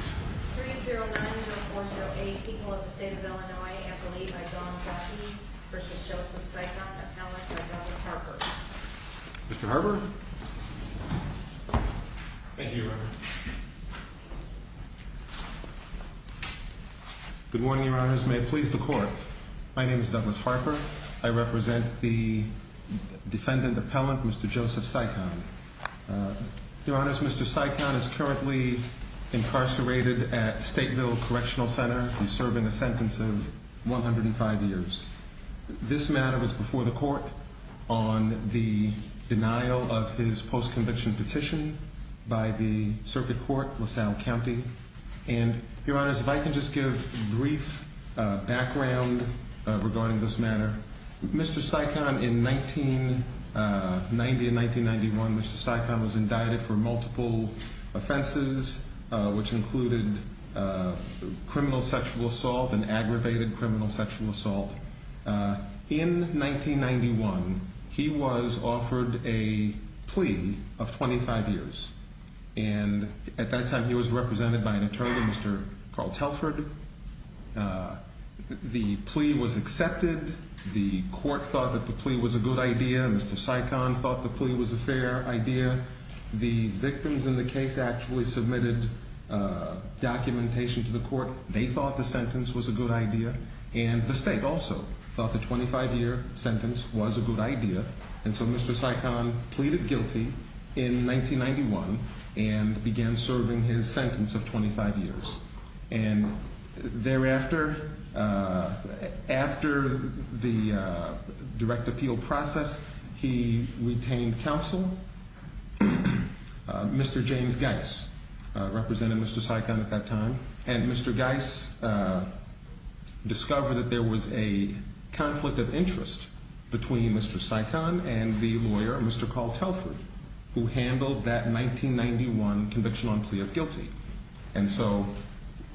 3-0-9-0-4-0-8 People of the State of Illinois Appellate by Don Brachy v. Joseph Cichon Appellant by Douglas Harper Mr. Harper? Thank you, Reverend. Good morning, Your Honors. May it please the Court. My name is Douglas Harper. I represent the defendant appellant, Mr. Joseph Cichon. Your Honors, Mr. Cichon is currently incarcerated at Stateville Correctional Center. He's serving a sentence of 105 years. This matter was before the Court on the denial of his post-conviction petition by the Circuit Court, LaSalle County. And, Your Honors, if I can just give brief background regarding this matter. Mr. Cichon, in 1990 and 1991, was indicted for multiple offenses, which included criminal sexual assault and aggravated criminal sexual assault. In 1991, he was offered a plea of 25 years. And, at that time, he was represented by an attorney, Mr. Carl Telford. The plea was accepted. The Court thought that the plea was a good idea. Mr. Cichon thought the plea was a fair idea. The victims in the case actually submitted documentation to the Court. They thought the sentence was a good idea. And the State also thought the 25-year sentence was a good idea. And so, Mr. Cichon pleaded guilty in 1991 and began serving his sentence of 25 years. And thereafter, after the direct appeal process, he retained counsel. Mr. James Geis represented Mr. Cichon at that time. And Mr. Geis discovered that there was a conflict of interest between Mr. Cichon and the lawyer, Mr. Carl Telford, who handled that 1991 conviction on plea of guilty. And so,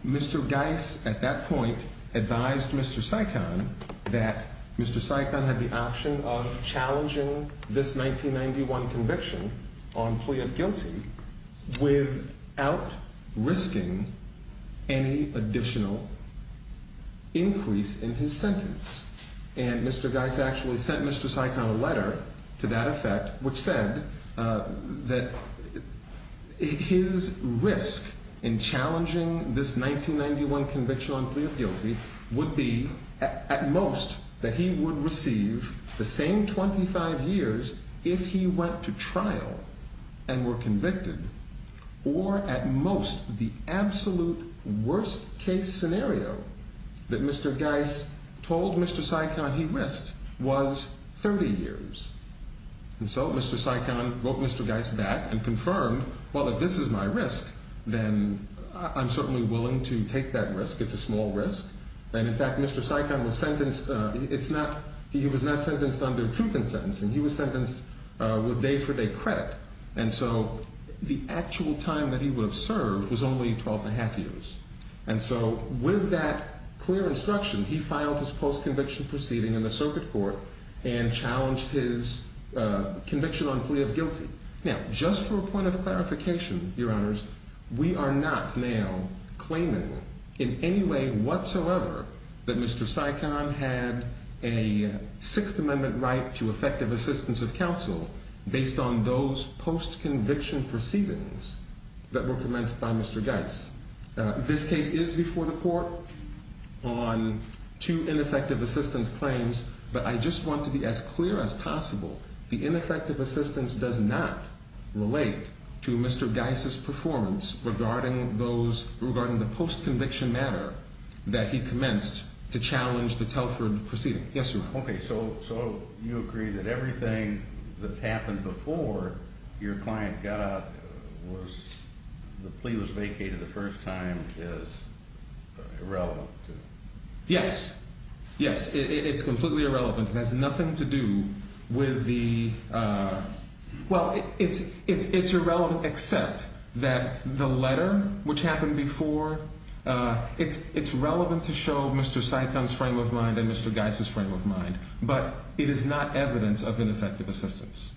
Mr. Geis, at that point, advised Mr. Cichon that Mr. Cichon had the option of challenging this 1991 conviction on plea of guilty without risking any additional increase in his sentence. And Mr. Geis actually sent Mr. Cichon a letter to that effect, which said that his risk in challenging this 1991 conviction on plea of guilty would be, at most, that he would receive the same 25 years if he went to trial and were convicted. Or, at most, the absolute worst-case scenario that Mr. Geis told Mr. Cichon he risked was 30 years. And so, Mr. Cichon wrote Mr. Geis back and confirmed, well, if this is my risk, then I'm certainly willing to take that risk. It's a small risk. And, in fact, Mr. Cichon was sentenced. He was not sentenced under truth in sentencing. He was sentenced with day-for-day credit. And so, the actual time that he would have served was only 12 and a half years. And so, with that clear instruction, he filed his post-conviction proceeding in the circuit court and challenged his conviction on plea of guilty. Now, just for a point of clarification, Your Honors, we are not now claiming in any way whatsoever that Mr. Cichon had a Sixth Amendment right to effective assistance of counsel based on those post-conviction proceedings that were commenced by Mr. Geis. This case is before the court on two ineffective assistance claims, but I just want to be as clear as possible. The ineffective assistance does not relate to Mr. Geis' performance regarding the post-conviction matter that he commenced to challenge the Telford proceeding. Yes, sir. Okay, so you agree that everything that's happened before your client got the plea was vacated the first time is irrelevant? Yes. Yes, it's completely irrelevant. It has nothing to do with the – well, it's irrelevant except that the letter which happened before, it's relevant to show Mr. Cichon's frame of mind and Mr. Geis' frame of mind, but it is not evidence of ineffective assistance.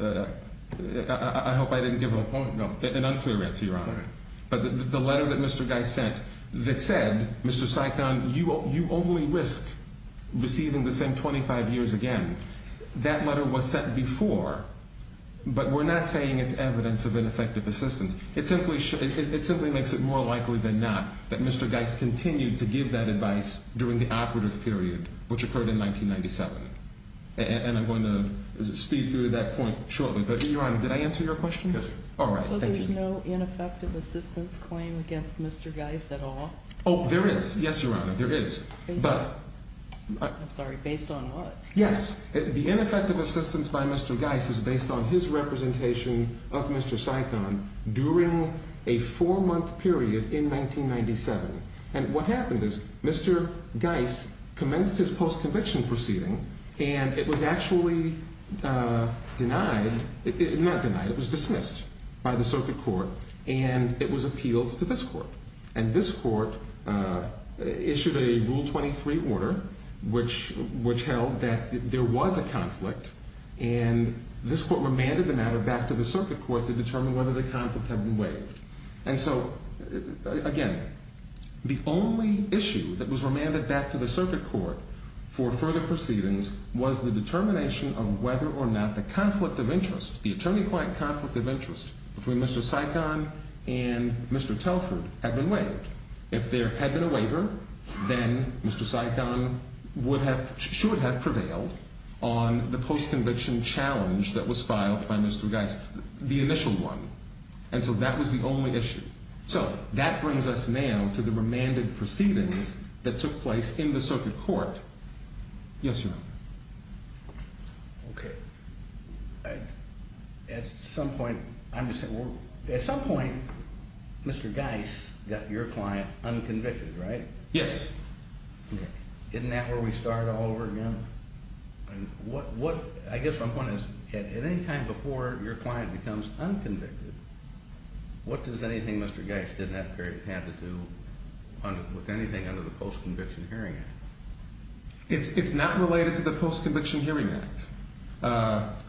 I hope I didn't give an unclear answer, Your Honor. But the letter that Mr. Geis sent that said, Mr. Cichon, you only risk receiving the same 25 years again, that letter was sent before, but we're not saying it's evidence of ineffective assistance. It simply makes it more likely than not that Mr. Geis continued to give that advice during the operative period which occurred in 1997, and I'm going to speed through that point shortly. But, Your Honor, did I answer your question? Yes, sir. All right, thank you. So there's no ineffective assistance claim against Mr. Geis at all? Oh, there is. Yes, Your Honor, there is. Based on – I'm sorry, based on what? Yes. The ineffective assistance by Mr. Geis is based on his representation of Mr. Cichon during a four-month period in 1997. And what happened is Mr. Geis commenced his post-conviction proceeding, and it was actually denied – not denied, it was dismissed by the circuit court, and it was appealed to this court. And this court issued a Rule 23 order which held that there was a conflict, and this court remanded the matter back to the circuit court to determine whether the conflict had been waived. And so, again, the only issue that was remanded back to the circuit court for further proceedings was the determination of whether or not the conflict of interest, the attorney-client conflict of interest between Mr. Cichon and Mr. Telford had been waived. If there had been a waiver, then Mr. Cichon would have – should have prevailed on the post-conviction challenge that was filed by Mr. Geis, the initial one. And so that was the only issue. So that brings us now to the remanded proceedings that took place in the circuit court. Yes, Your Honor. Okay. At some point – I'm just saying – at some point, Mr. Geis got your client unconvicted, right? Yes. Okay. Isn't that where we start all over again? I guess my point is, at any time before your client becomes unconvicted, what does anything Mr. Geis did not have to do with anything under the Post-Conviction Hearing Act? It's not related to the Post-Conviction Hearing Act.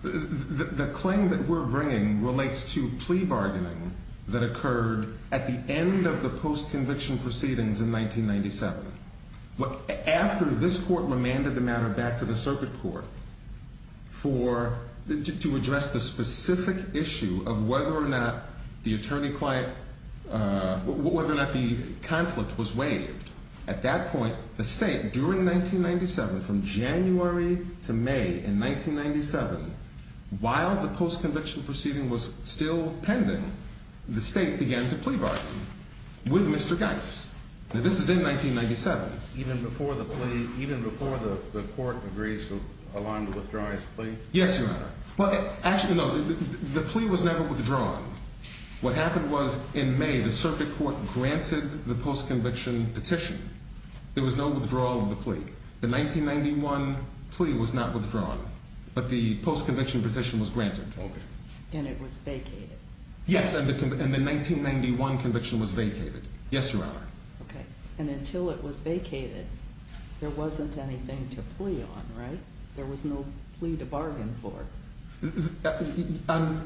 The claim that we're bringing relates to plea bargaining that occurred at the end of the post-conviction proceedings in 1997. After this court remanded the matter back to the circuit court for – to address the specific issue of whether or not the attorney-client – whether or not the conflict was waived. At that point, the State, during 1997, from January to May in 1997, while the post-conviction proceeding was still pending, the State began to plea bargain with Mr. Geis. Now, this is in 1997. Even before the plea – even before the court agrees to allow him to withdraw his plea? Yes, Your Honor. Well, actually, no. The plea was never withdrawn. What happened was, in May, the circuit court granted the post-conviction petition. There was no withdrawal of the plea. The 1991 plea was not withdrawn, but the post-conviction petition was granted. Okay. And it was vacated. Yes, and the 1991 conviction was vacated. Yes, Your Honor. Okay. And until it was vacated, there wasn't anything to plea on, right? There was no plea to bargain for.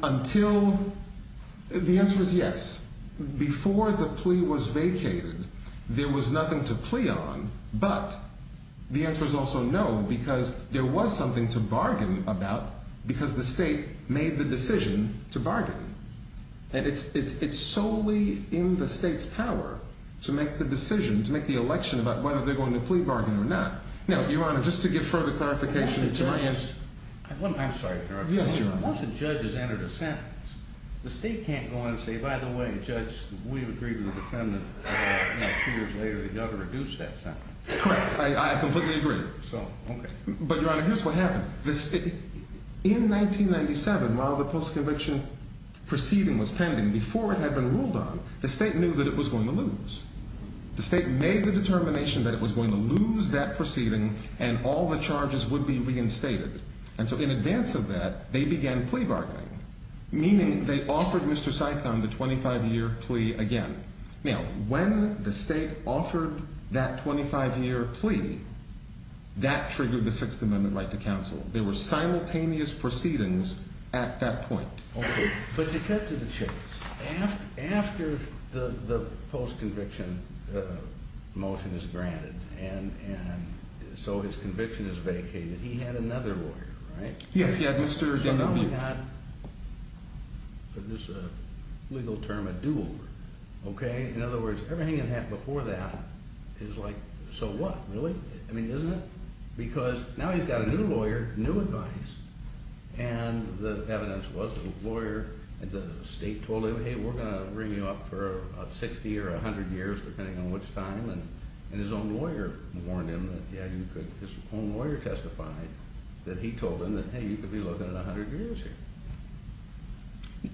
Until – the answer is yes. Before the plea was vacated, there was nothing to plea on, but the answer is also no, because there was something to bargain about, because the State made the decision to bargain. And it's solely in the State's power to make the decision, to make the election about whether they're going to plea bargain or not. Now, Your Honor, just to give further clarification, to my interest – I'm sorry, Your Honor. Yes, Your Honor. Once a judge has entered a sentence, the State can't go on and say, by the way, judge, we've agreed with the defendant. Two years later, the governor reduced that sentence. Correct. I completely agree. So, okay. But, Your Honor, here's what happened. In 1997, while the post-conviction proceeding was pending, before it had been ruled on, the State knew that it was going to lose. The State made the determination that it was going to lose that proceeding and all the charges would be reinstated. And so in advance of that, they began plea bargaining, meaning they offered Mr. Sikon the 25-year plea again. Now, when the State offered that 25-year plea, that triggered the Sixth Amendment right to counsel. They were simultaneous proceedings at that point. Okay. But to cut to the chase, after the post-conviction motion is granted, and so his conviction is vacated, he had another lawyer, right? Yes, he had Mr. Daniel Buick. He had, for this legal term, a do-over, okay? In other words, everything that happened before that is like, so what? Really? I mean, isn't it? Because now he's got a new lawyer, new advice, and the evidence was the lawyer at the State told him, hey, we're going to bring you up for 60 or 100 years, depending on which time, and his own lawyer warned him that, yeah, you could, his own lawyer testified that he told him that, hey, you could be looking at 100 years here.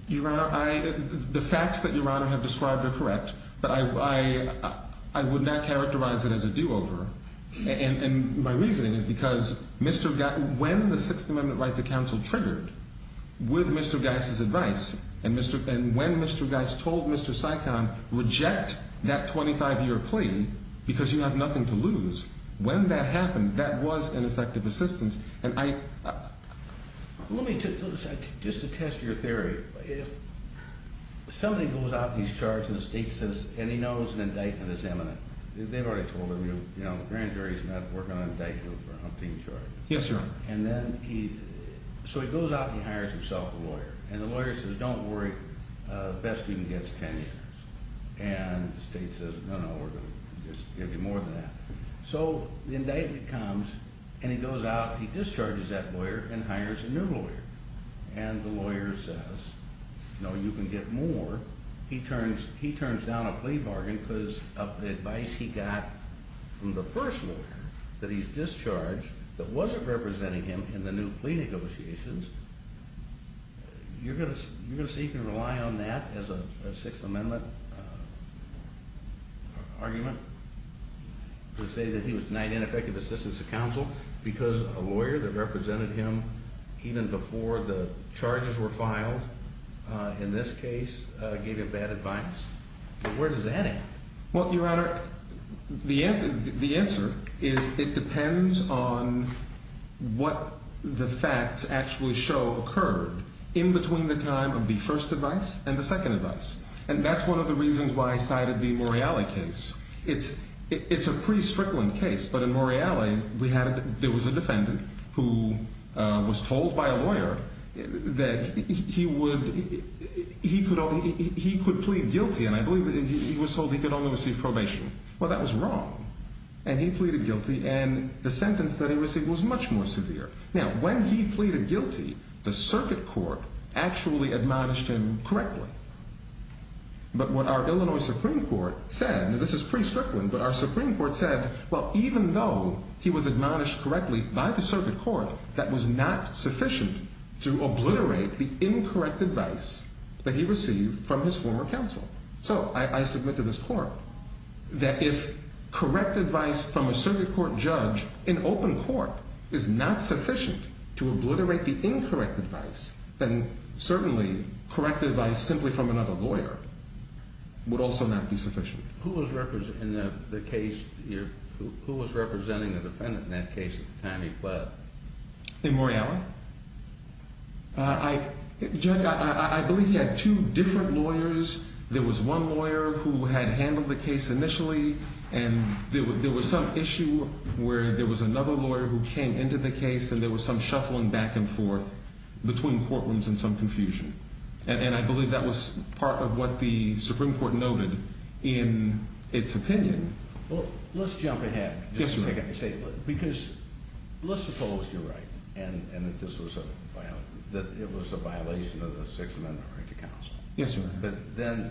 Your Honor, the facts that Your Honor have described are correct, but I would not characterize it as a do-over. And my reasoning is because when the Sixth Amendment right to counsel triggered, with Mr. Geis' advice, and when Mr. Geis told Mr. Sikon, reject that 25-year plea because you have nothing to lose, when that happened, that was an effective assistance. And I – Let me just attest to your theory. If somebody goes out and he's charged, and the State says, and he knows an indictment is imminent, they've already told him, you know, the grand jury's not working on an indictment for a hunting charge. Yes, sir. And then he – so he goes out and he hires himself a lawyer, and the lawyer says, don't worry, the best you can get is 10 years. And the State says, no, no, we're going to just give you more than that. So the indictment comes, and he goes out, he discharges that lawyer and hires a new lawyer. And the lawyer says, no, you can get more. He turns down a plea bargain because of the advice he got from the first lawyer that he's discharged that wasn't representing him in the new plea negotiations. You're going to see if you can rely on that as a Sixth Amendment argument to say that he was denied ineffective assistance to counsel because a lawyer that represented him even before the charges were filed in this case gave him bad advice? Where does that end? Well, Your Honor, the answer is it depends on what the facts actually show occurred in between the time of the first advice and the second advice. And that's one of the reasons why I cited the Morreale case. It's a pre-Strickland case, but in Morreale, there was a defendant who was told by a lawyer that he could plead guilty, and I believe he was told he could only receive probation. Well, that was wrong, and he pleaded guilty, and the sentence that he received was much more severe. Now, when he pleaded guilty, the circuit court actually admonished him correctly. But what our Illinois Supreme Court said, and this is pre-Strickland, but our Supreme Court said, well, even though he was admonished correctly by the circuit court, that was not sufficient to obliterate the incorrect advice that he received from his former counsel. So I submit to this court that if correct advice from a circuit court judge in open court is not sufficient to obliterate the incorrect advice, then certainly correct advice simply from another lawyer would also not be sufficient. Who was representing the defendant in that case at the time he pled? In Morreale? I believe he had two different lawyers. There was one lawyer who had handled the case initially, and there was some issue where there was another lawyer who came into the case, and there was some shuffling back and forth between courtrooms and some confusion. And I believe that was part of what the Supreme Court noted in its opinion. Well, let's jump ahead. Yes, sir. Because let's suppose you're right and that this was a violation of the Sixth Amendment right to counsel. Yes, sir. But then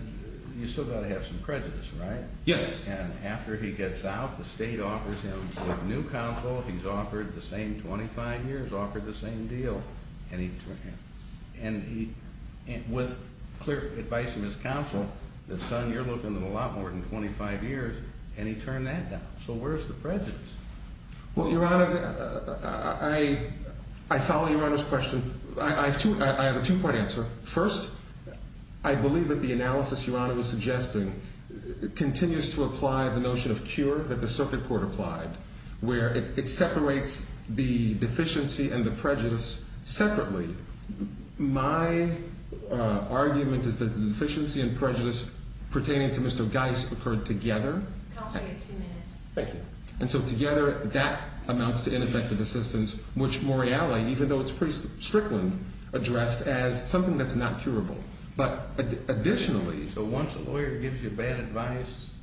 you've still got to have some prejudice, right? Yes. And after he gets out, the state offers him a new counsel. He's offered the same 25 years, offered the same deal. And with clear advice from his counsel, the son, you're looking at a lot more than 25 years, and he turned that down. So where's the prejudice? Well, Your Honor, I follow Your Honor's question. I have a two-part answer. First, I believe that the analysis Your Honor was suggesting continues to apply the notion of cure that the circuit court applied, where it separates the deficiency and the prejudice separately. My argument is that the deficiency and prejudice pertaining to Mr. Geis occurred together. Counsel, you have two minutes. Thank you. And so together, that amounts to ineffective assistance, which Morreale, even though it's pretty strictly addressed as something that's not curable. So once a lawyer gives you bad advice,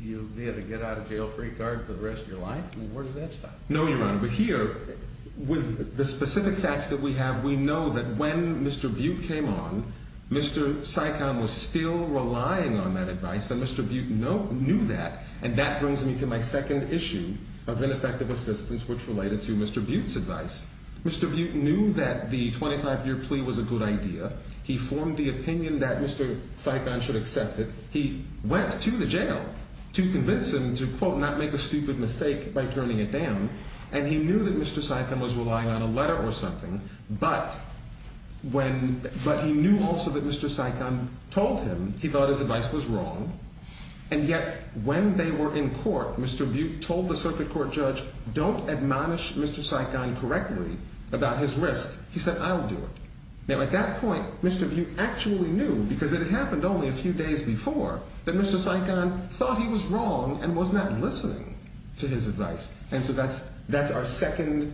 you'll be able to get out of jail free card for the rest of your life? Where does that stop? No, Your Honor. But here, with the specific facts that we have, we know that when Mr. Butte came on, Mr. Sikon was still relying on that advice, and Mr. Butte knew that. And that brings me to my second issue of ineffective assistance, which related to Mr. Butte's advice. Mr. Butte knew that the 25-year plea was a good idea. He formed the opinion that Mr. Sikon should accept it. He went to the jail to convince him to, quote, not make a stupid mistake by turning it down. And he knew that Mr. Sikon was relying on a letter or something, but he knew also that Mr. Sikon told him. He thought his advice was wrong. And yet, when they were in court, Mr. Butte told the circuit court judge, don't admonish Mr. Sikon correctly about his risk. He said, I'll do it. Now, at that point, Mr. Butte actually knew, because it had happened only a few days before, that Mr. Sikon thought he was wrong and was not listening to his advice. And so that's our second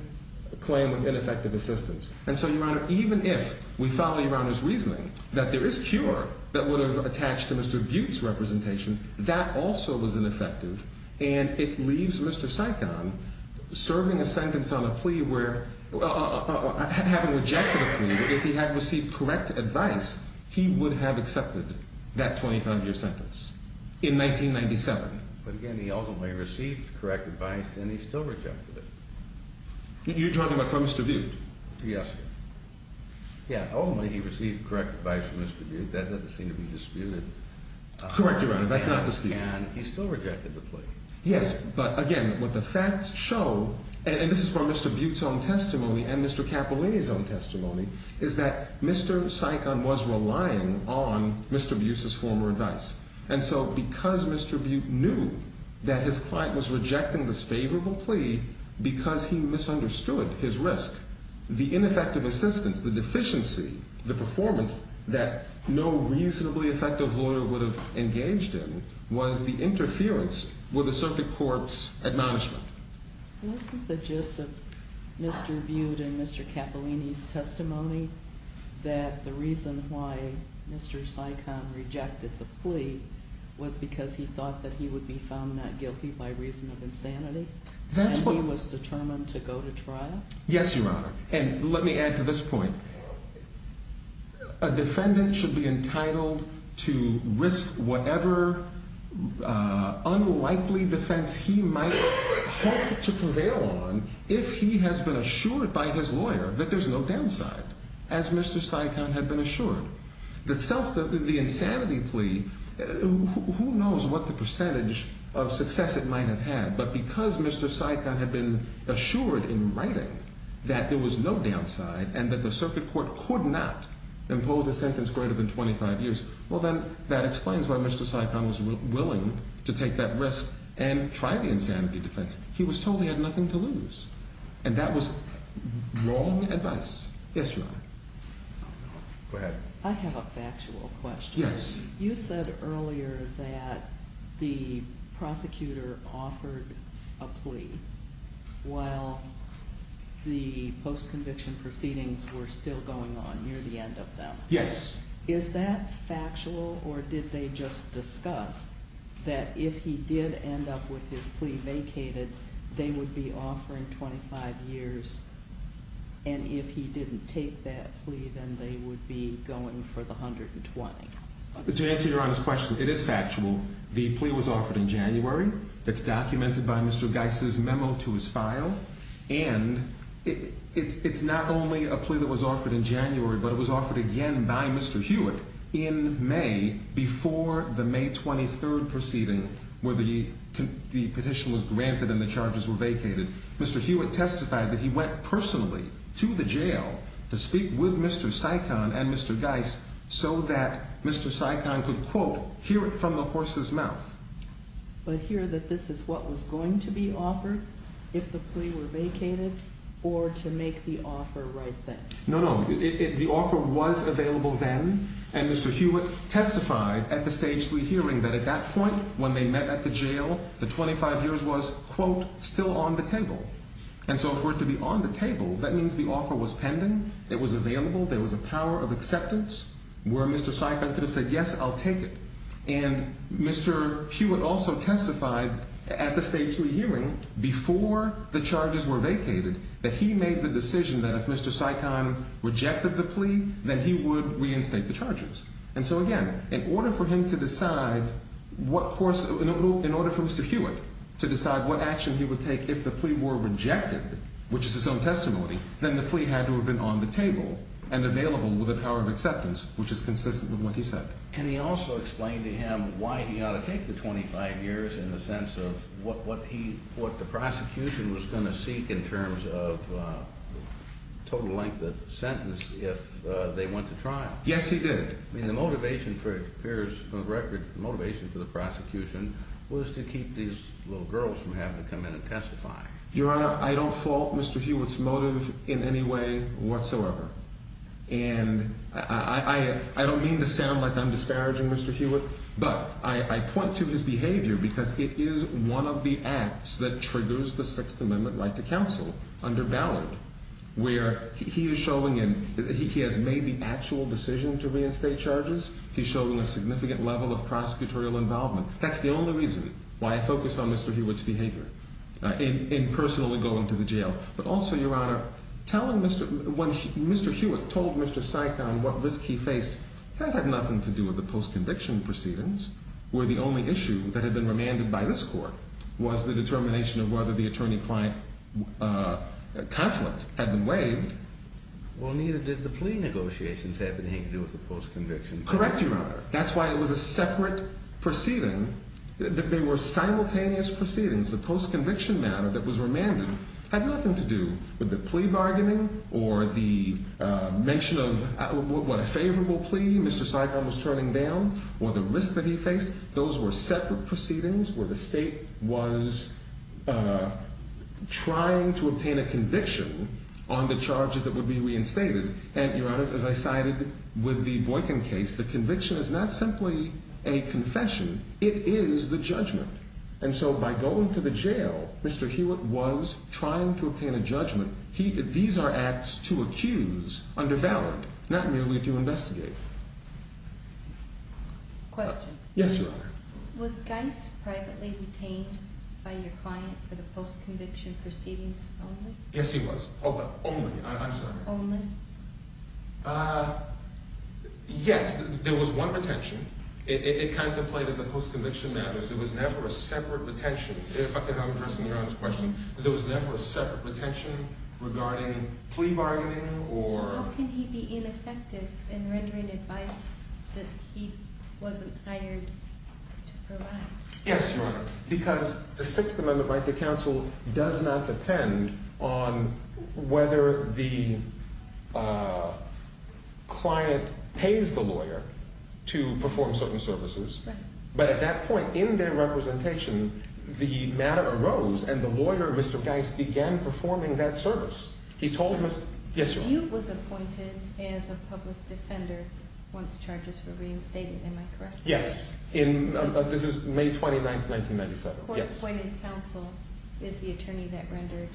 claim of ineffective assistance. And so, Your Honor, even if we follow Your Honor's reasoning that there is cure that would have attached to Mr. Butte's representation, that also was ineffective. And it leaves Mr. Sikon serving a sentence on a plea where, having rejected a plea, if he had received correct advice, he would have accepted that 25-year sentence in 1997. But again, he ultimately received correct advice, and he still rejected it. You're talking about from Mr. Butte? Yes. Yeah. Ultimately, he received correct advice from Mr. Butte. That doesn't seem to be disputed. Correct, Your Honor. That's not disputed. And he still rejected the plea. Yes. But again, what the facts show, and this is from Mr. Butte's own testimony and Mr. Cappellini's own testimony, is that Mr. Sikon was relying on Mr. Butte's former advice. And so, because Mr. Butte knew that his client was rejecting this favorable plea because he misunderstood his risk, the ineffective assistance, the deficiency, the performance that no reasonably effective lawyer would have engaged in was the interference with the circuit court's admonishment. Isn't the gist of Mr. Butte and Mr. Cappellini's testimony that the reason why Mr. Sikon rejected the plea was because he thought that he would be found not guilty by reason of insanity? And he was determined to go to trial? Yes, Your Honor. And let me add to this point, a defendant should be entitled to risk whatever unlikely defense he might hope to prevail on if he has been assured by his lawyer that there's no downside, as Mr. Sikon had been assured. The insanity plea, who knows what the percentage of success it might have had, but because Mr. Sikon had been assured in writing that there was no downside and that the circuit court could not impose a sentence greater than 25 years, well then, that explains why Mr. Sikon was willing to take that risk and try the insanity defense. He was told he had nothing to lose. And that was wrong advice. Yes, Your Honor. Go ahead. I have a factual question. Yes. You said earlier that the prosecutor offered a plea while the post-conviction proceedings were still going on near the end of them. Yes. Is that factual, or did they just discuss that if he did end up with his plea vacated, they would be offering 25 years, and if he didn't take that plea, then they would be going for the 120? To answer Your Honor's question, it is factual. The plea was offered in January. It's documented by Mr. Geis' memo to his file. And it's not only a plea that was offered in January, but it was offered again by Mr. Hewitt in May before the May 23rd proceeding where the petition was granted and the charges were vacated. Mr. Hewitt testified that he went personally to the jail to speak with Mr. Sikon and Mr. Geis so that Mr. Sikon could, quote, hear it from the horse's mouth. But hear that this is what was going to be offered if the plea were vacated or to make the offer right then. No, no. The offer was available then, and Mr. Hewitt testified at the stage three hearing that at that point when they met at the jail, the 25 years was, quote, still on the table. And so for it to be on the table, that means the offer was pending, it was available, there was a power of acceptance where Mr. Sikon could have said, yes, I'll take it. And Mr. Hewitt also testified at the stage three hearing before the charges were vacated that he made the decision that if Mr. Sikon rejected the plea, then he would reinstate the charges. And so, again, in order for him to decide what course – in order for Mr. Hewitt to decide what action he would take if the plea were rejected, which is his own testimony, then the plea had to have been on the table and available with a power of acceptance, which is consistent with what he said. And he also explained to him why he ought to take the 25 years in the sense of what he – what the prosecution was going to seek in terms of total length of sentence if they went to trial. Yes, he did. I mean, the motivation for it appears from the record – the motivation for the prosecution was to keep these little girls from having to come in and testify. Your Honor, I don't fault Mr. Hewitt's motive in any way whatsoever. And I don't mean to sound like I'm disparaging Mr. Hewitt, but I point to his behavior because it is one of the acts that triggers the Sixth Amendment right to counsel under Ballard where he is showing in – he has made the actual decision to reinstate charges. He's showing a significant level of prosecutorial involvement. That's the only reason why I focus on Mr. Hewitt's behavior in personally going to the jail. But also, Your Honor, telling Mr. – when Mr. Hewitt told Mr. Sikon what risk he faced, that had nothing to do with the post-conviction proceedings where the only issue that had been remanded by this Court was the determination of whether the attorney-client conflict had been waived. Well, neither did the plea negotiations have anything to do with the post-convictions. Correct, Your Honor. That's why it was a separate proceeding. They were simultaneous proceedings. The post-conviction matter that was remanded had nothing to do with the plea bargaining or the mention of what a favorable plea Mr. Sikon was turning down or the risk that he faced. Those were separate proceedings where the State was trying to obtain a conviction on the charges that would be reinstated. And, Your Honor, as I cited with the Boykin case, the conviction is not simply a confession. It is the judgment. And so by going to the jail, Mr. Hewitt was trying to obtain a judgment. These are acts to accuse under ballot, not merely to investigate. Question. Yes, Your Honor. Was Geis privately retained by your client for the post-conviction proceedings only? Yes, he was. Only. I'm sorry. Only? Yes, there was one retention. It contemplated the post-conviction matters. There was never a separate retention. If I can have a person in the audience question. There was never a separate retention regarding plea bargaining or... So how can he be ineffective in rendering advice that he wasn't hired to provide? Yes, Your Honor. Because the Sixth Amendment right to counsel does not depend on whether the client pays the lawyer to perform certain services. Right. But at that point in their representation, the matter arose and the lawyer, Mr. Geis, began performing that service. He told Mr. Hewitt... Yes, Your Honor. Hewitt was appointed as a public defender once charges were reinstated. Am I correct? Yes. This is May 29, 1997. Yes. The court appointed counsel is the attorney that rendered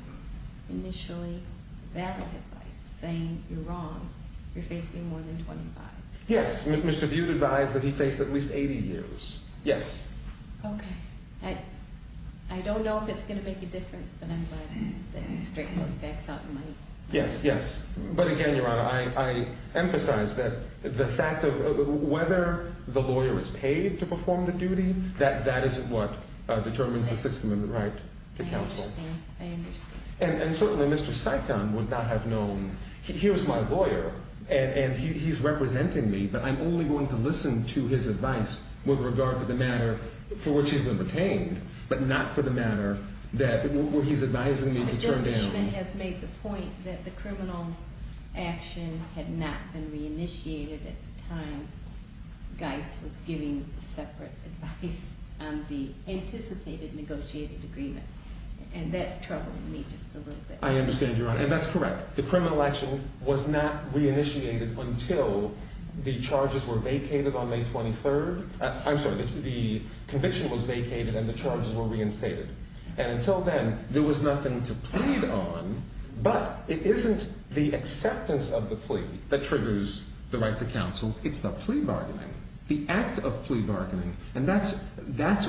initially valid advice, saying you're wrong. You're facing more than 25. Yes. Mr. Butte advised that he faced at least 80 years. Yes. Okay. I don't know if it's going to make a difference, but I'm glad that you straightened those facts out in my... Yes, yes. But again, Your Honor, I emphasize that the fact of whether the lawyer is paid to perform the duty, that is what determines the Sixth Amendment right to counsel. I understand. I understand. And certainly, Mr. Sikon would not have known. Here's my lawyer, and he's representing me, but I'm only going to listen to his advice with regard to the matter for which he's been retained, but not for the matter where he's advising me to turn down... The criminal action had not been reinitiated at the time Geis was giving the separate advice on the anticipated negotiated agreement, and that's troubling me just a little bit. I understand, Your Honor, and that's correct. The criminal action was not reinitiated until the charges were vacated on May 23rd. I'm sorry, the conviction was vacated and the charges were reinstated. And until then, there was nothing to plead on, but it isn't the acceptance of the plea that triggers the right to counsel. It's the plea bargaining, the act of plea bargaining, and that's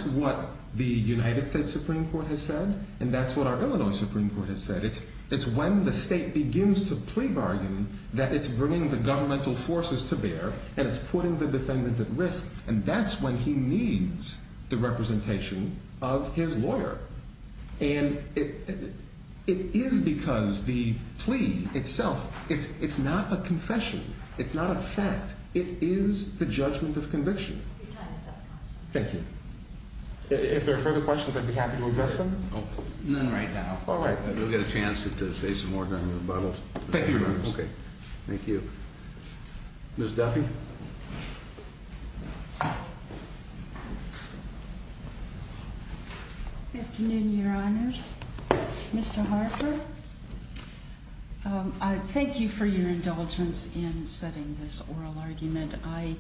what the United States Supreme Court has said, and that's what our Illinois Supreme Court has said. It's when the state begins to plea bargain that it's bringing the governmental forces to bear and it's putting the defendant at risk, and that's when he needs the representation of his lawyer. And it is because the plea itself, it's not a confession. It's not a fact. It is the judgment of conviction. Thank you. If there are further questions, I'd be happy to address them. None right now. All right. We'll get a chance to say some more down in the bubbles. Thank you, Your Honor. Okay. Thank you. Ms. Duffy. Good afternoon, Your Honors. Mr. Harper, I thank you for your indulgence in setting this oral argument. I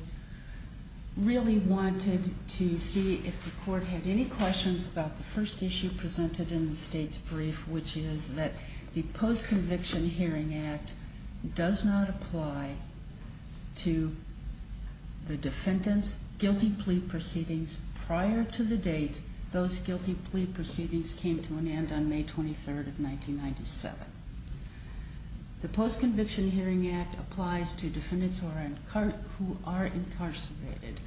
really wanted to see if the court had any questions about the first issue presented in the state's brief, which is that the Post-Conviction Hearing Act does not apply to the defendant's guilty plea proceedings prior to the date those guilty plea proceedings came to an end on May 23rd of 1997. The Post-Conviction Hearing Act applies to defendants who are incarcerated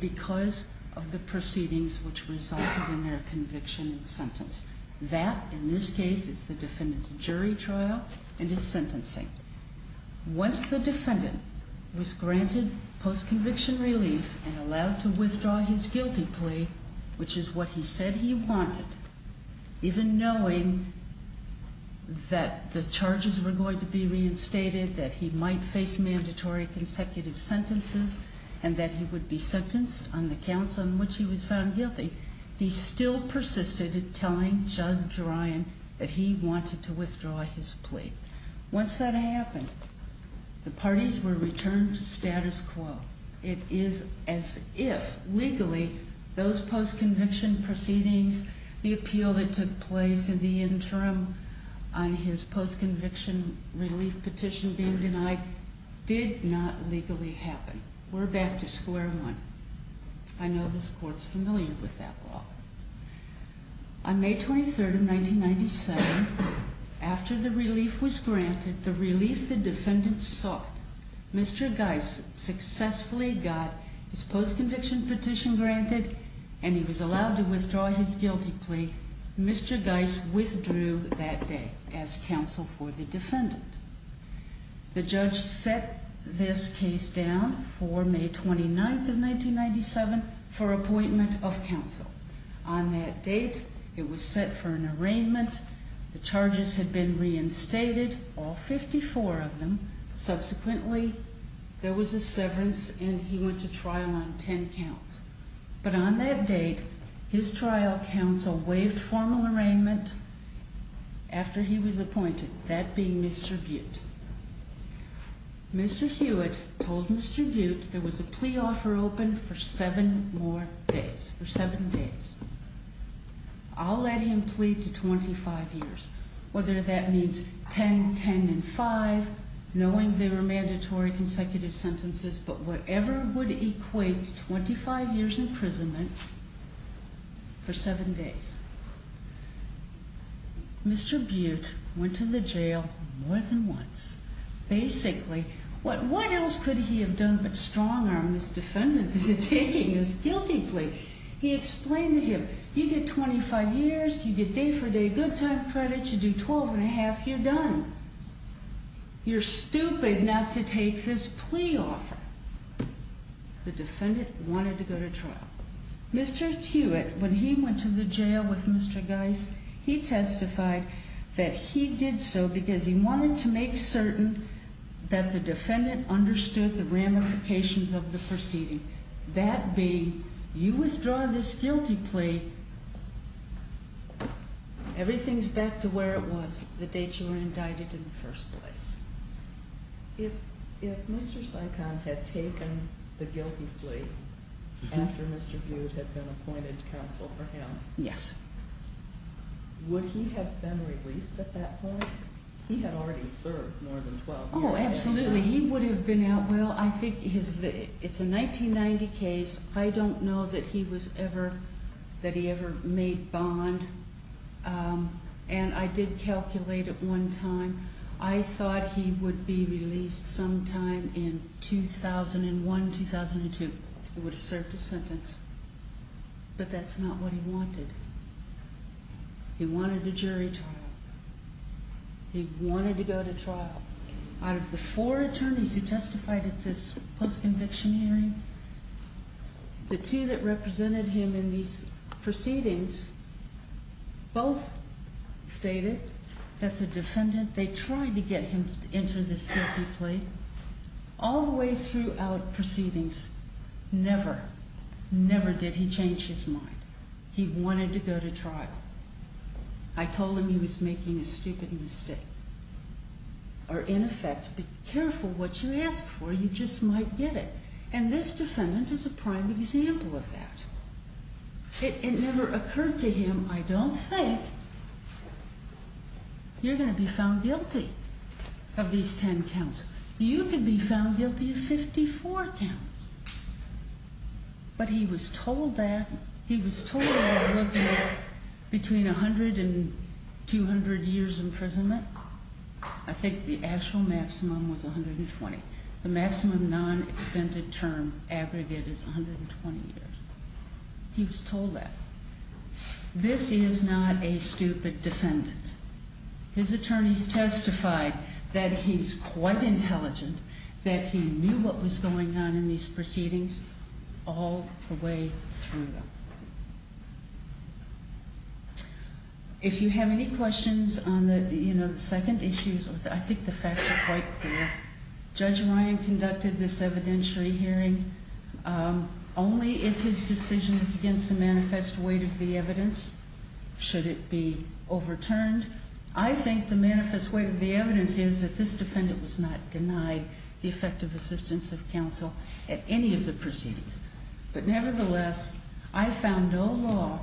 because of the proceedings which resulted in their conviction and sentence. That, in this case, is the defendant's jury trial and his sentencing. Once the defendant was granted post-conviction relief and allowed to withdraw his guilty plea, which is what he said he wanted, even knowing that the charges were going to be reinstated, that he might face mandatory consecutive sentences, and that he would be sentenced on the counts on which he was found guilty, he still persisted in telling Judge Ryan that he wanted to withdraw his plea. Once that happened, the parties were returned to status quo. It is as if, legally, those post-conviction proceedings, the appeal that took place in the interim on his post-conviction relief petition being denied, did not legally happen. We're back to square one. I know this Court's familiar with that law. On May 23rd of 1997, after the relief was granted, the relief the defendant sought, Mr. Geis successfully got his post-conviction petition granted and he was allowed to withdraw his guilty plea. Mr. Geis withdrew that day as counsel for the defendant. The judge set this case down for May 29th of 1997 for appointment of counsel. On that date, it was set for an arraignment. The charges had been reinstated, all 54 of them. Subsequently, there was a severance and he went to trial on 10 counts. But on that date, his trial counsel waived formal arraignment after he was appointed, that being Mr. Butte. Mr. Hewitt told Mr. Butte there was a plea offer open for seven more days, for seven days. I'll let him plead to 25 years, whether that means 10, 10, and 5, knowing they were mandatory consecutive sentences, but whatever would equate to 25 years imprisonment for seven days. Mr. Butte went to the jail more than once. Basically, what else could he have done but strong-arm this defendant into taking his guilty plea? He explained to him, you get 25 years, you get day-for-day good time credit, you do 12 and a half, you're done. You're stupid not to take this plea offer. The defendant wanted to go to trial. Mr. Hewitt, when he went to the jail with Mr. Geis, he testified that he did so because he wanted to make certain that the defendant understood the ramifications of the proceeding. That being, you withdraw this guilty plea, everything's back to where it was, the date you were indicted in the first place. If Mr. Sykon had taken the guilty plea after Mr. Butte had been appointed counsel for him, would he have been released at that point? He had already served more than 12 years. Oh, absolutely. Well, I think it's a 1990 case. I don't know that he ever made bond, and I did calculate at one time. I thought he would be released sometime in 2001, 2002. He would have served his sentence, but that's not what he wanted. He wanted a jury trial. He wanted to go to trial. Out of the four attorneys who testified at this post-conviction hearing, the two that represented him in these proceedings both stated that the defendant, they tried to get him to enter this guilty plea. All the way throughout proceedings, never, never did he change his mind. He wanted to go to trial. I told him he was making a stupid mistake, or in effect, be careful what you ask for. You just might get it. And this defendant is a prime example of that. It never occurred to him, I don't think you're going to be found guilty of these 10 counts. You could be found guilty of 54 counts. But he was told that. He was told he was looking at between 100 and 200 years imprisonment. I think the actual maximum was 120. The maximum non-extended term aggregate is 120 years. He was told that. This is not a stupid defendant. His attorneys testified that he's quite intelligent, that he knew what was going on in these proceedings all the way through them. If you have any questions on the second issue, I think the facts are quite clear. Judge Ryan conducted this evidentiary hearing. Only if his decision is against the manifest weight of the evidence should it be overturned. I think the manifest weight of the evidence is that this defendant was not denied the effective assistance of counsel at any of the proceedings. But nevertheless, I found no law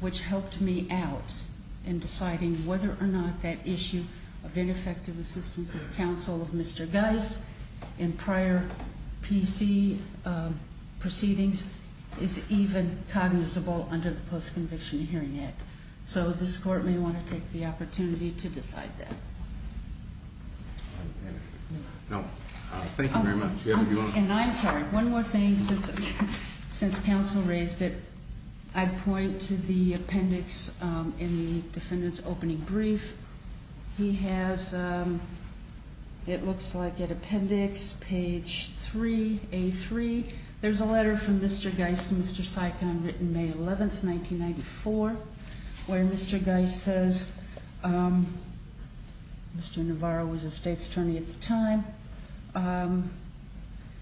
which helped me out in deciding whether or not that issue of ineffective assistance of counsel of Mr. Geis in prior PC proceedings is even cognizable under the Post-Conviction Hearing Act. So this court may want to take the opportunity to decide that. Thank you very much. And I'm sorry, one more thing since counsel raised it. I'd point to the appendix in the defendant's opening brief. He has, it looks like, at appendix page 3A3. There's a letter from Mr. Geis to Mr. Sikon written May 11th, 1994. Where Mr. Geis says, Mr. Navarro was a state attorney at the time.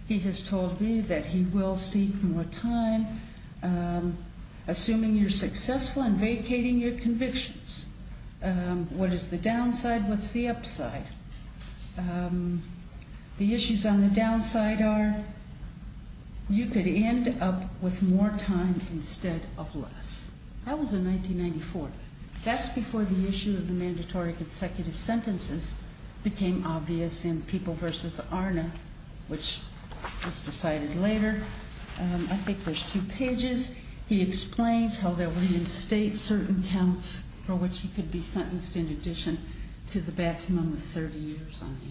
He has told me that he will seek more time, assuming you're successful in vacating your convictions. What is the downside? What's the upside? The issues on the downside are you could end up with more time instead of less. That was in 1994. That's before the issue of the mandatory consecutive sentences became obvious in People v. Arna, which was decided later. I think there's two pages. He explains how there were in state certain counts for which he could be sentenced in addition to the maximum of 30 years on the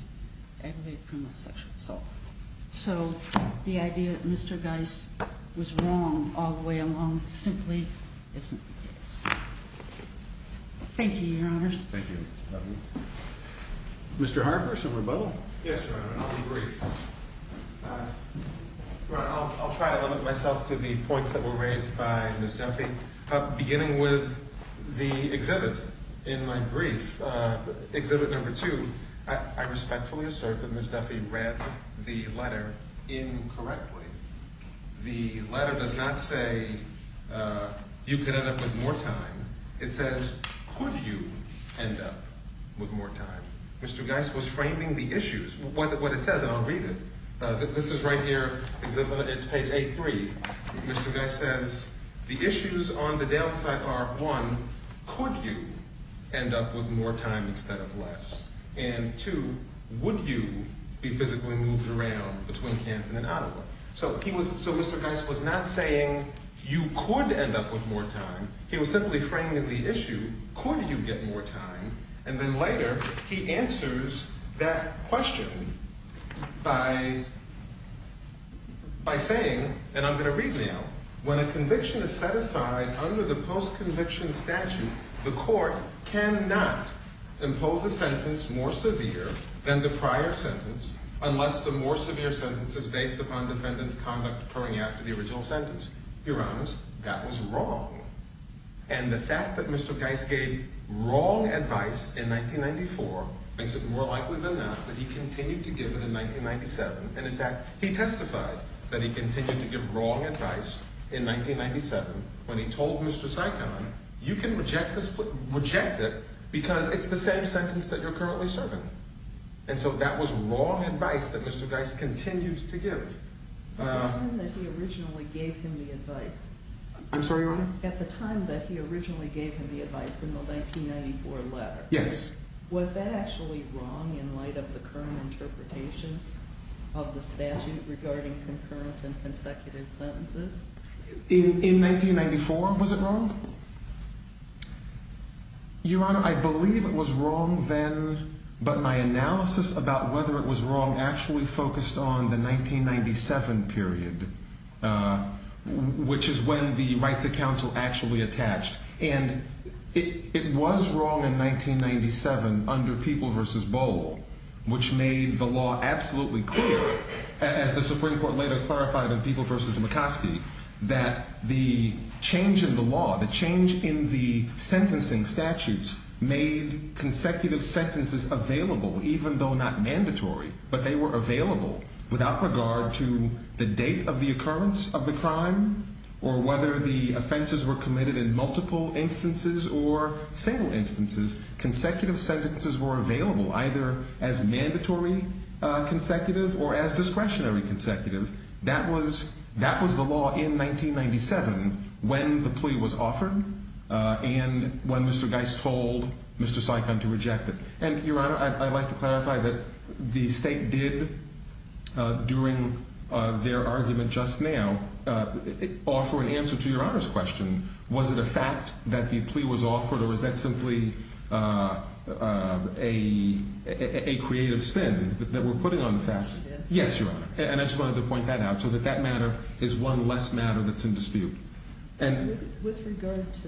aggravated criminal sexual assault. So the idea that Mr. Geis was wrong all the way along simply isn't the case. Thank you, Your Honors. Thank you. Mr. Harper, some rebuttal? Yes, Your Honor. I'll be brief. Your Honor, I'll try to limit myself to the points that were raised by Ms. Duffy. Beginning with the exhibit in my brief, exhibit number two, I respectfully assert that Ms. Duffy read the letter incorrectly. The letter does not say you could end up with more time. It says could you end up with more time. Mr. Geis was framing the issues. What it says, and I'll read it. This is right here. It's page A3. Mr. Geis says the issues on the downside are, one, could you end up with more time instead of less? And two, would you be physically moved around between Canton and Ottawa? So Mr. Geis was not saying you could end up with more time. He was simply framing the issue. Could you get more time? And then later he answers that question by saying, and I'm going to read now, when a conviction is set aside under the post-conviction statute, the court cannot impose a sentence more severe than the prior sentence unless the more severe sentence is based upon defendant's conduct occurring after the original sentence. Your Honors, that was wrong. And the fact that Mr. Geis gave wrong advice in 1994 makes it more likely than not that he continued to give it in 1997. And in fact, he testified that he continued to give wrong advice in 1997 when he told Mr. Sikon, you can reject it because it's the same sentence that you're currently serving. And so that was wrong advice that Mr. Geis continued to give. At the time that he originally gave him the advice in the 1994 letter, was that actually wrong in light of the current interpretation of the statute regarding concurrent and consecutive sentences? In 1994, was it wrong? Your Honor, I believe it was wrong then, but my analysis about whether it was wrong actually focused on the 1997 period, which is when the right to counsel actually attached. And it was wrong in 1997 under People v. Bohl, which made the law absolutely clear, as the Supreme Court later clarified in People v. McCoskey, that the change in the law, the change in the sentencing statutes made consecutive sentences available even though not mandatory, but they were available without regard to the date of the occurrence of the crime or whether the offenses were committed in multiple instances or single instances. Consecutive sentences were available either as mandatory consecutive or as discretionary consecutive. That was the law in 1997 when the plea was offered and when Mr. Geis told Mr. Sikon to reject it. And, Your Honor, I'd like to clarify that the State did, during their argument just now, offer an answer to Your Honor's question. Was it a fact that the plea was offered or was that simply a creative spin that we're putting on the facts? Yes, Your Honor, and I just wanted to point that out so that that matter is one less matter that's in dispute. With regard to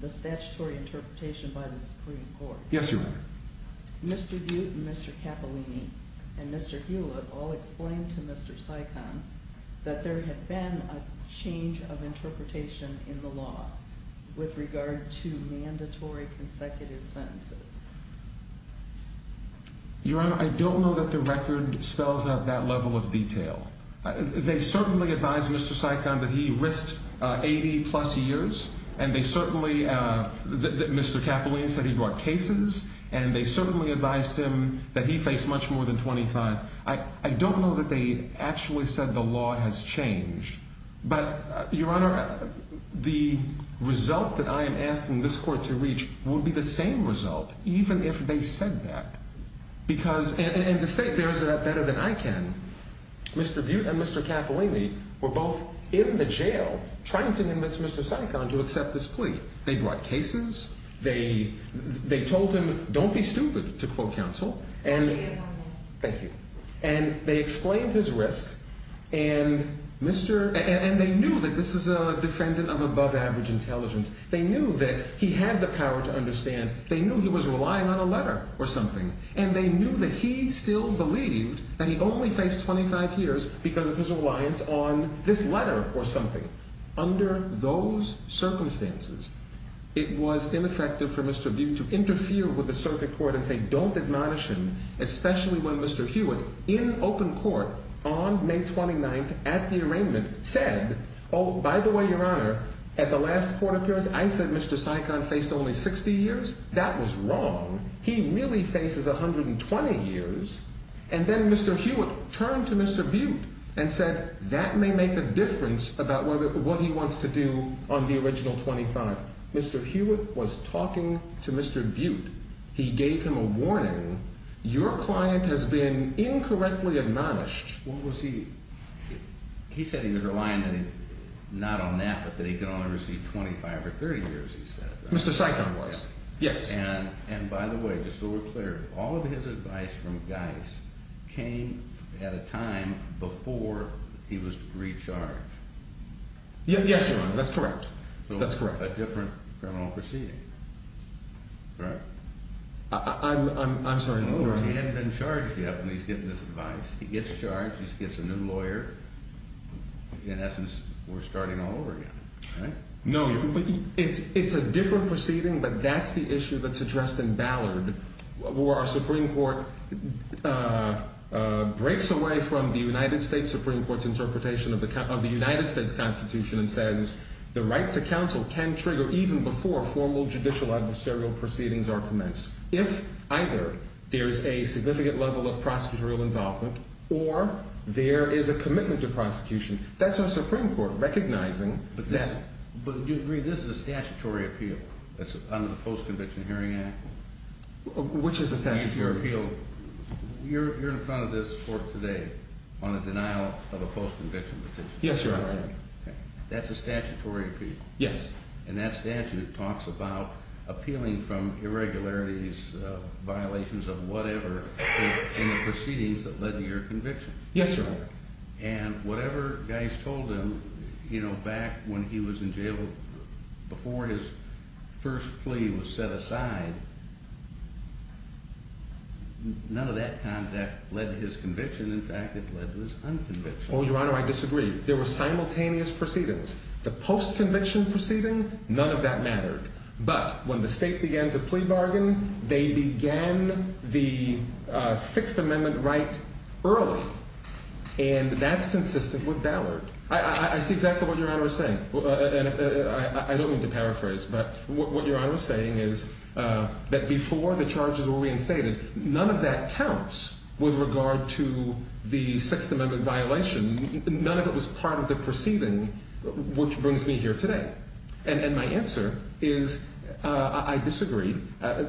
the statutory interpretation by the Supreme Court, Mr. Butte and Mr. Cappellini and Mr. Hewlett all explained to Mr. Sikon that there had been a change of interpretation in the law with regard to mandatory consecutive sentences. Your Honor, I don't know that the record spells out that level of detail. They certainly advised Mr. Sikon that he risked 80-plus years and they certainly, Mr. Cappellini said he brought cases and they certainly advised him that he faced much more than 25. I don't know that they actually said the law has changed. But, Your Honor, the result that I am asking this Court to reach would be the same result even if they said that. Because, and the State bears it up better than I can, Mr. Butte and Mr. Cappellini were both in the jail trying to convince Mr. Sikon to accept this plea. They brought cases, they told him don't be stupid, to quote counsel, and they explained his risk and they knew that this is a defendant of above average intelligence. They knew that he had the power to understand. They knew he was relying on a letter or something. And they knew that he still believed that he only faced 25 years because of his reliance on this letter or something. Under those circumstances, it was ineffective for Mr. Butte to interfere with the circuit court and say don't admonish him, especially when Mr. Hewitt in open court on May 29th at the arraignment said, oh, by the way, Your Honor, at the last court appearance, I said Mr. Sikon faced only 60 years. That was wrong. He really faces 120 years. And then Mr. Hewitt turned to Mr. Butte and said that may make a difference about what he wants to do on the original 25. Mr. Hewitt was talking to Mr. Butte. He gave him a warning. Your client has been incorrectly admonished. What was he? He said he was relying not on that, but that he could only receive 25 or 30 years, he said. Mr. Sikon was. Yes. And by the way, just so we're clear, all of his advice from Geis came at a time before he was recharged. Yes, Your Honor. That's correct. That's correct. A different criminal proceeding, correct? I'm sorry. He hadn't been charged yet when he's getting this advice. He gets charged. He gets a new lawyer. In essence, we're starting all over again, right? No, it's a different proceeding, but that's the issue that's addressed in Ballard, where our Supreme Court breaks away from the United States Supreme Court's interpretation of the United States Constitution and says the right to counsel can trigger even before formal judicial adversarial proceedings are commenced. If either there's a significant level of prosecutorial involvement or there is a commitment to prosecution, that's our Supreme Court recognizing that. But you agree this is a statutory appeal under the Post-Conviction Hearing Act? Which is a statutory appeal? You're in front of this court today on a denial of a post-conviction petition. Yes, Your Honor. That's a statutory appeal? Yes. And that statute talks about appealing from irregularities, violations of whatever in the proceedings that led to your conviction. Yes, Your Honor. And whatever guys told him, you know, back when he was in jail, before his first plea was set aside, none of that contact led to his conviction. In fact, it led to his unconviction. Oh, Your Honor, I disagree. There were simultaneous proceedings. The post-conviction proceeding, none of that mattered. But when the state began to plea bargain, they began the Sixth Amendment right early. And that's consistent with Ballard. I see exactly what Your Honor is saying. I don't mean to paraphrase, but what Your Honor is saying is that before the charges were reinstated, none of that counts with regard to the Sixth Amendment violation. None of it was part of the proceeding, which brings me here today. And my answer is I disagree.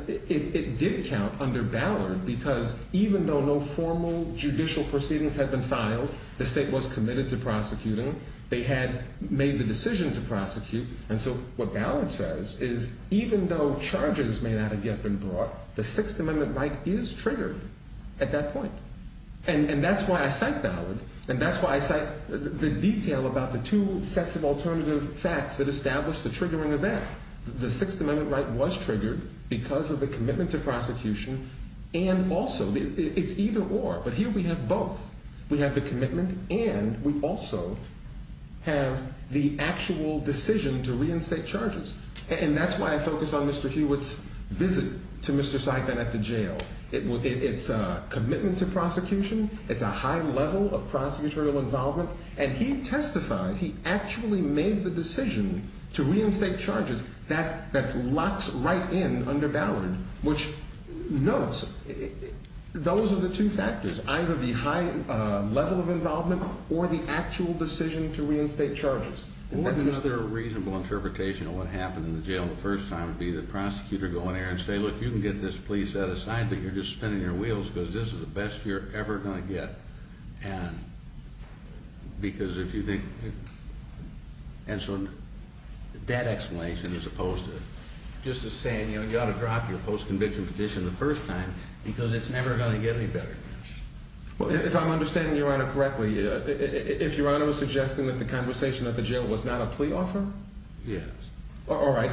It did count under Ballard because even though no formal judicial proceedings had been filed, the state was committed to prosecuting. They had made the decision to prosecute. And so what Ballard says is even though charges may not have yet been brought, the Sixth Amendment right is triggered at that point. And that's why I cite Ballard. And that's why I cite the detail about the two sets of alternative facts that establish the triggering of that. The Sixth Amendment right was triggered because of the commitment to prosecution and also it's either or. But here we have both. We have the commitment and we also have the actual decision to reinstate charges. And that's why I focus on Mr. Hewitt's visit to Mr. Saigon at the jail. It's a commitment to prosecution. It's a high level of prosecutorial involvement. And he testified. He actually made the decision to reinstate charges. That locks right in under Ballard, which notes those are the two factors, either the high level of involvement or the actual decision to reinstate charges. Is there a reasonable interpretation of what happened in the jail the first time? Did the prosecutor go in there and say, look, you can get this plea set aside, but you're just spinning your wheels because this is the best you're ever going to get. And because if you think. And so that explanation is opposed to just saying, you know, you ought to drop your post conviction petition the first time because it's never going to get any better. Well, if I'm understanding your honor correctly, if your honor was suggesting that the conversation at the jail was not a plea offer. Yes. All right.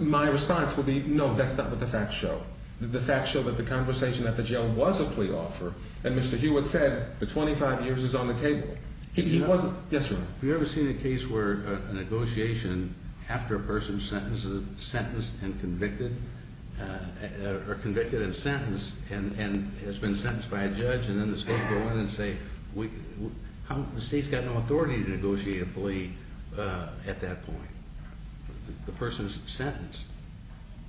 My response would be no, that's not what the facts show. The facts show that the conversation at the jail was a plea offer. And Mr. Hewitt said the 25 years is on the table. He wasn't. Yes, sir. Have you ever seen a case where a negotiation after a person's sentence is sentenced and convicted or convicted and sentenced and has been sentenced by a judge? And then the state's got no authority to negotiate a plea at that point. The person is sentenced.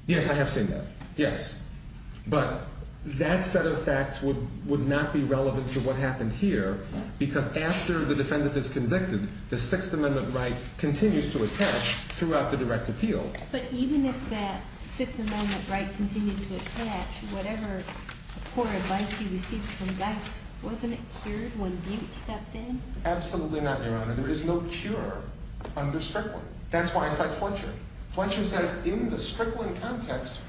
Yes, I have seen that. Yes. But that set of facts would not be relevant to what happened here because after the defendant is convicted, the Sixth Amendment right continues to attach throughout the direct appeal. But even if that Sixth Amendment right continued to attach, whatever poor advice he received from Dice, wasn't it cured when Hewitt stepped in? Absolutely not, your honor. There is no cure under Strickland. That's why I cite Fletcher. Fletcher says in the Strickland context,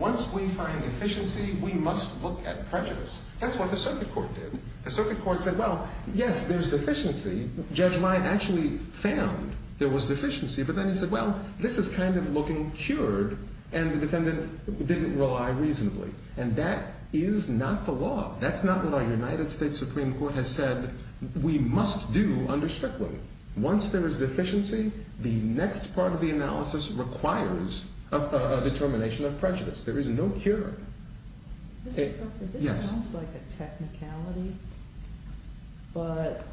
once we find deficiency, we must look at prejudice. That's what the circuit court did. The circuit court said, well, yes, there's deficiency. Judge Meyer actually found there was deficiency. But then he said, well, this is kind of looking cured. And the defendant didn't rely reasonably. And that is not the law. That's not what our United States Supreme Court has said we must do under Strickland. Once there is deficiency, the next part of the analysis requires a determination of prejudice. There is no cure. Mr. Crocker, this sounds like a technicality. But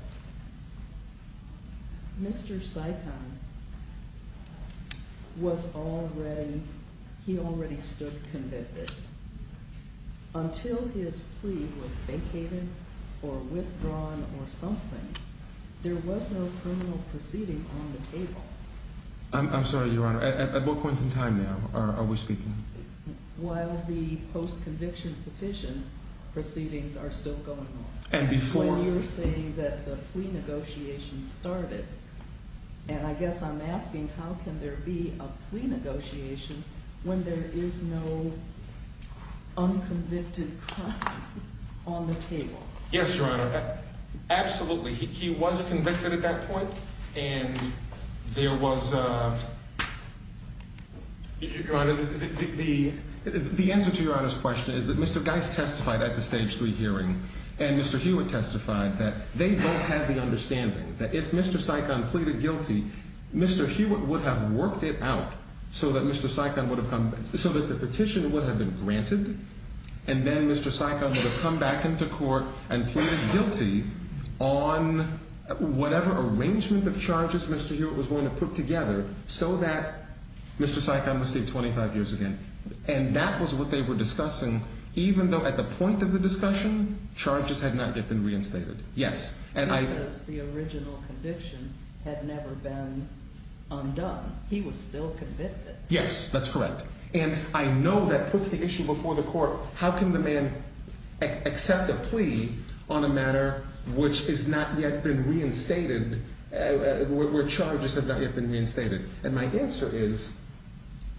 Mr. Sikon was already, he already stood convicted. Until his plea was vacated or withdrawn or something, there was no criminal proceeding on the table. I'm sorry, your honor. At what point in time now are we speaking? While the post-conviction petition proceedings are still going on. And before? When you're saying that the plea negotiations started. And I guess I'm asking, how can there be a plea negotiation when there is no unconvicted crime on the table? Yes, your honor. Absolutely. He was convicted at that point. And there was, your honor, the answer to your honor's question is that Mr. Geist testified at the stage three hearing. And Mr. Hewitt testified that they both had the understanding that if Mr. Sikon pleaded guilty, Mr. Hewitt would have worked it out so that Mr. Sikon would have come, so that the petition would have been granted. And then Mr. Sikon would have come back into court and pleaded guilty on whatever arrangement of charges Mr. Hewitt was going to put together, so that Mr. Sikon would stay 25 years again. And that was what they were discussing, even though at the point of the discussion, charges had not yet been reinstated. Yes. Because the original conviction had never been undone. He was still convicted. Yes, that's correct. And I know that puts the issue before the court. How can the man accept a plea on a matter which is not yet been reinstated, where charges have not yet been reinstated? And my answer is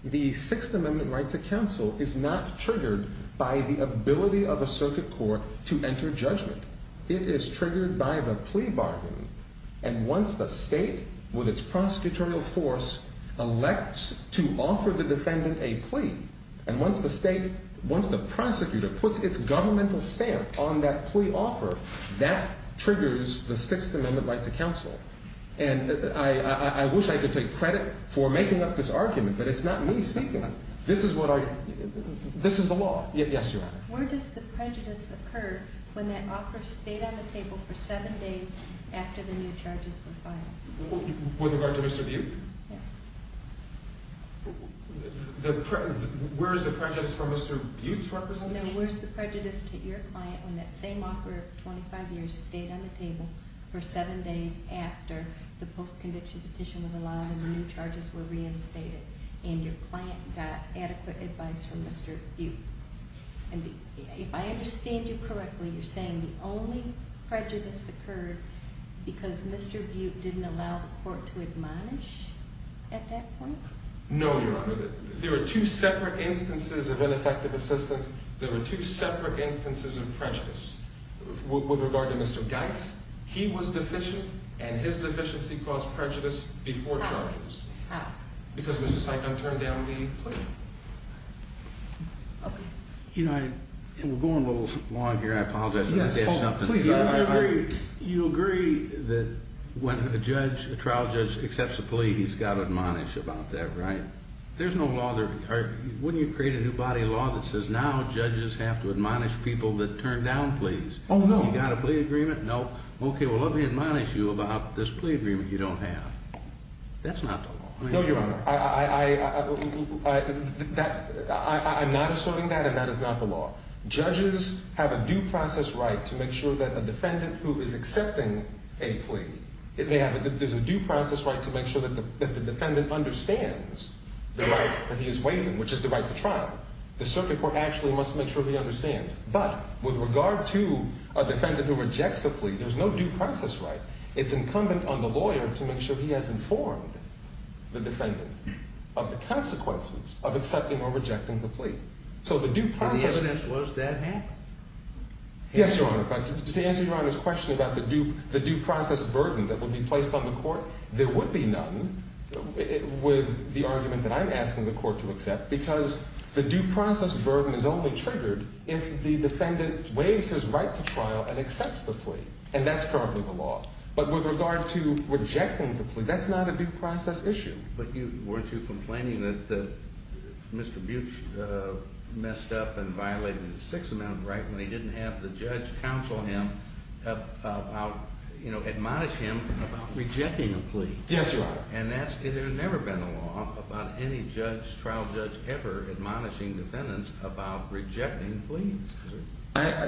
the Sixth Amendment right to counsel is not triggered by the ability of a circuit court to enter judgment. It is triggered by the plea bargain. And once the state, with its prosecutorial force, elects to offer the defendant a plea, and once the state, once the prosecutor puts its governmental stamp on that plea offer, that triggers the Sixth Amendment right to counsel. And I wish I could take credit for making up this argument, but it's not me speaking. This is what I, this is the law. Yes, Your Honor. Where does the prejudice occur when that offer stayed on the table for seven days after the new charges were filed? With regard to Mr. Butte? Yes. Where is the prejudice for Mr. Butte's representation? No, where is the prejudice to your client when that same offer of 25 years stayed on the table for seven days after the post-conviction petition was allowed and the new charges were reinstated, and your client got adequate advice from Mr. Butte? And if I understand you correctly, you're saying the only prejudice occurred because Mr. Butte didn't allow the court to admonish at that point? No, Your Honor. There were two separate instances of ineffective assistance. There were two separate instances of prejudice. With regard to Mr. Geis, he was deficient, and his deficiency caused prejudice before charges. How? Because it was just like I turned down the plea. Okay. You know, we're going a little long here. I apologize. Yes, Paul, please. You agree that when a judge, a trial judge accepts a plea, he's got to admonish about that, right? There's no law, wouldn't you create a new body of law that says now judges have to admonish people that turn down pleas? Oh, no. You got a plea agreement? No. Okay, well, let me admonish you about this plea agreement you don't have. That's not the law. No, Your Honor. I'm not asserting that, and that is not the law. Judges have a due process right to make sure that a defendant who is accepting a plea, there's a due process right to make sure that the defendant understands the right that he is waiving, which is the right to trial. The circuit court actually must make sure he understands. But with regard to a defendant who rejects a plea, there's no due process right. It's incumbent on the lawyer to make sure he has informed the defendant of the consequences of accepting or rejecting the plea. And the evidence was that happened? Yes, Your Honor. To answer Your Honor's question about the due process burden that would be placed on the court, there would be none with the argument that I'm asking the court to accept because the due process burden is only triggered if the defendant waives his right to trial and accepts the plea, and that's currently the law. But with regard to rejecting the plea, that's not a due process issue. But weren't you complaining that Mr. Butch messed up and violated the sixth amendment, right, when he didn't have the judge counsel him about, you know, admonish him about rejecting a plea? Yes, Your Honor. And that's – there's never been a law about any judge, trial judge ever, admonishing defendants about rejecting pleas.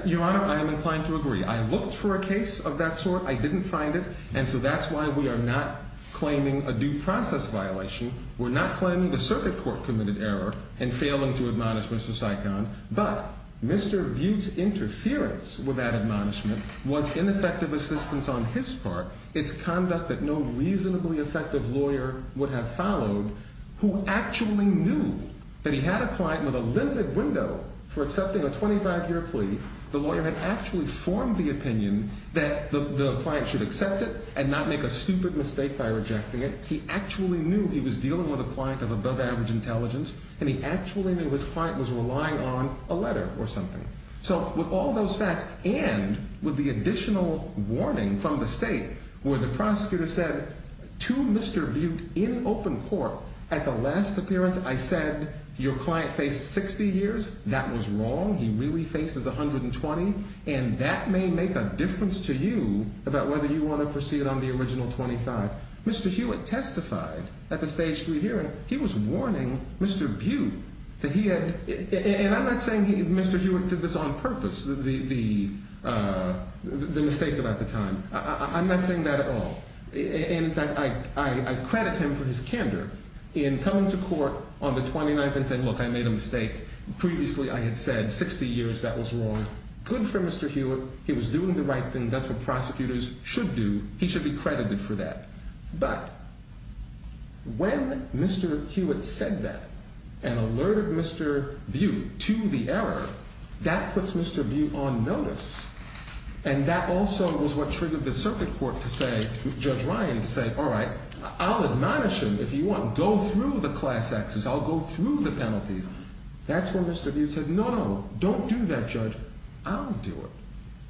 Your Honor, I am inclined to agree. I looked for a case of that sort. I didn't find it. And so that's why we are not claiming a due process violation. We're not claiming the circuit court committed error in failing to admonish Mr. Sykon. But Mr. Butch's interference with that admonishment was ineffective assistance on his part. It's conduct that no reasonably effective lawyer would have followed who actually knew that he had a client with a limited window for accepting a 25-year plea. The lawyer had actually formed the opinion that the client should accept it and not make a stupid mistake by rejecting it. He actually knew he was dealing with a client of above-average intelligence, and he actually knew his client was relying on a letter or something. So with all those facts and with the additional warning from the state where the prosecutor said to Mr. Butch in open court, at the last appearance I said your client faced 60 years, that was wrong. He really faces 120, and that may make a difference to you about whether you want to proceed on the original 25. Mr. Hewitt testified at the stage three hearing. He was warning Mr. Butch that he had, and I'm not saying Mr. Hewitt did this on purpose, the mistake about the time. I'm not saying that at all. In fact, I credit him for his candor in coming to court on the 29th and saying, look, I made a mistake. Previously I had said 60 years, that was wrong. Good for Mr. Hewitt. He was doing the right thing. That's what prosecutors should do. He should be credited for that. But when Mr. Hewitt said that and alerted Mr. Butch to the error, that puts Mr. Butch on notice, and that also was what triggered the circuit court to say, Judge Ryan to say, all right, I'll admonish him if you want. I'll go through the class acts. I'll go through the penalties. That's when Mr. Butch said, no, no, don't do that, Judge. I'll do it.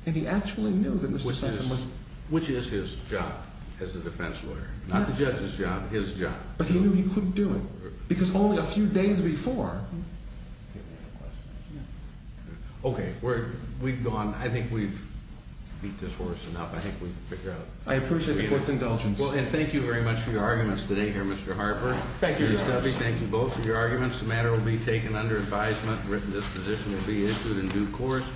And he actually knew that Mr. Sutton was. Which is his job as a defense lawyer. Not the judge's job, his job. But he knew he couldn't do it because only a few days before. Okay. We've gone. I think we've beat this horse enough. I think we've figured out. I appreciate the court's indulgence. Well, and thank you very much for your arguments today here, Mr. Harper. Thank you. Thank you both for your arguments. The matter will be taken under advisement. Written disposition will be issued in due course.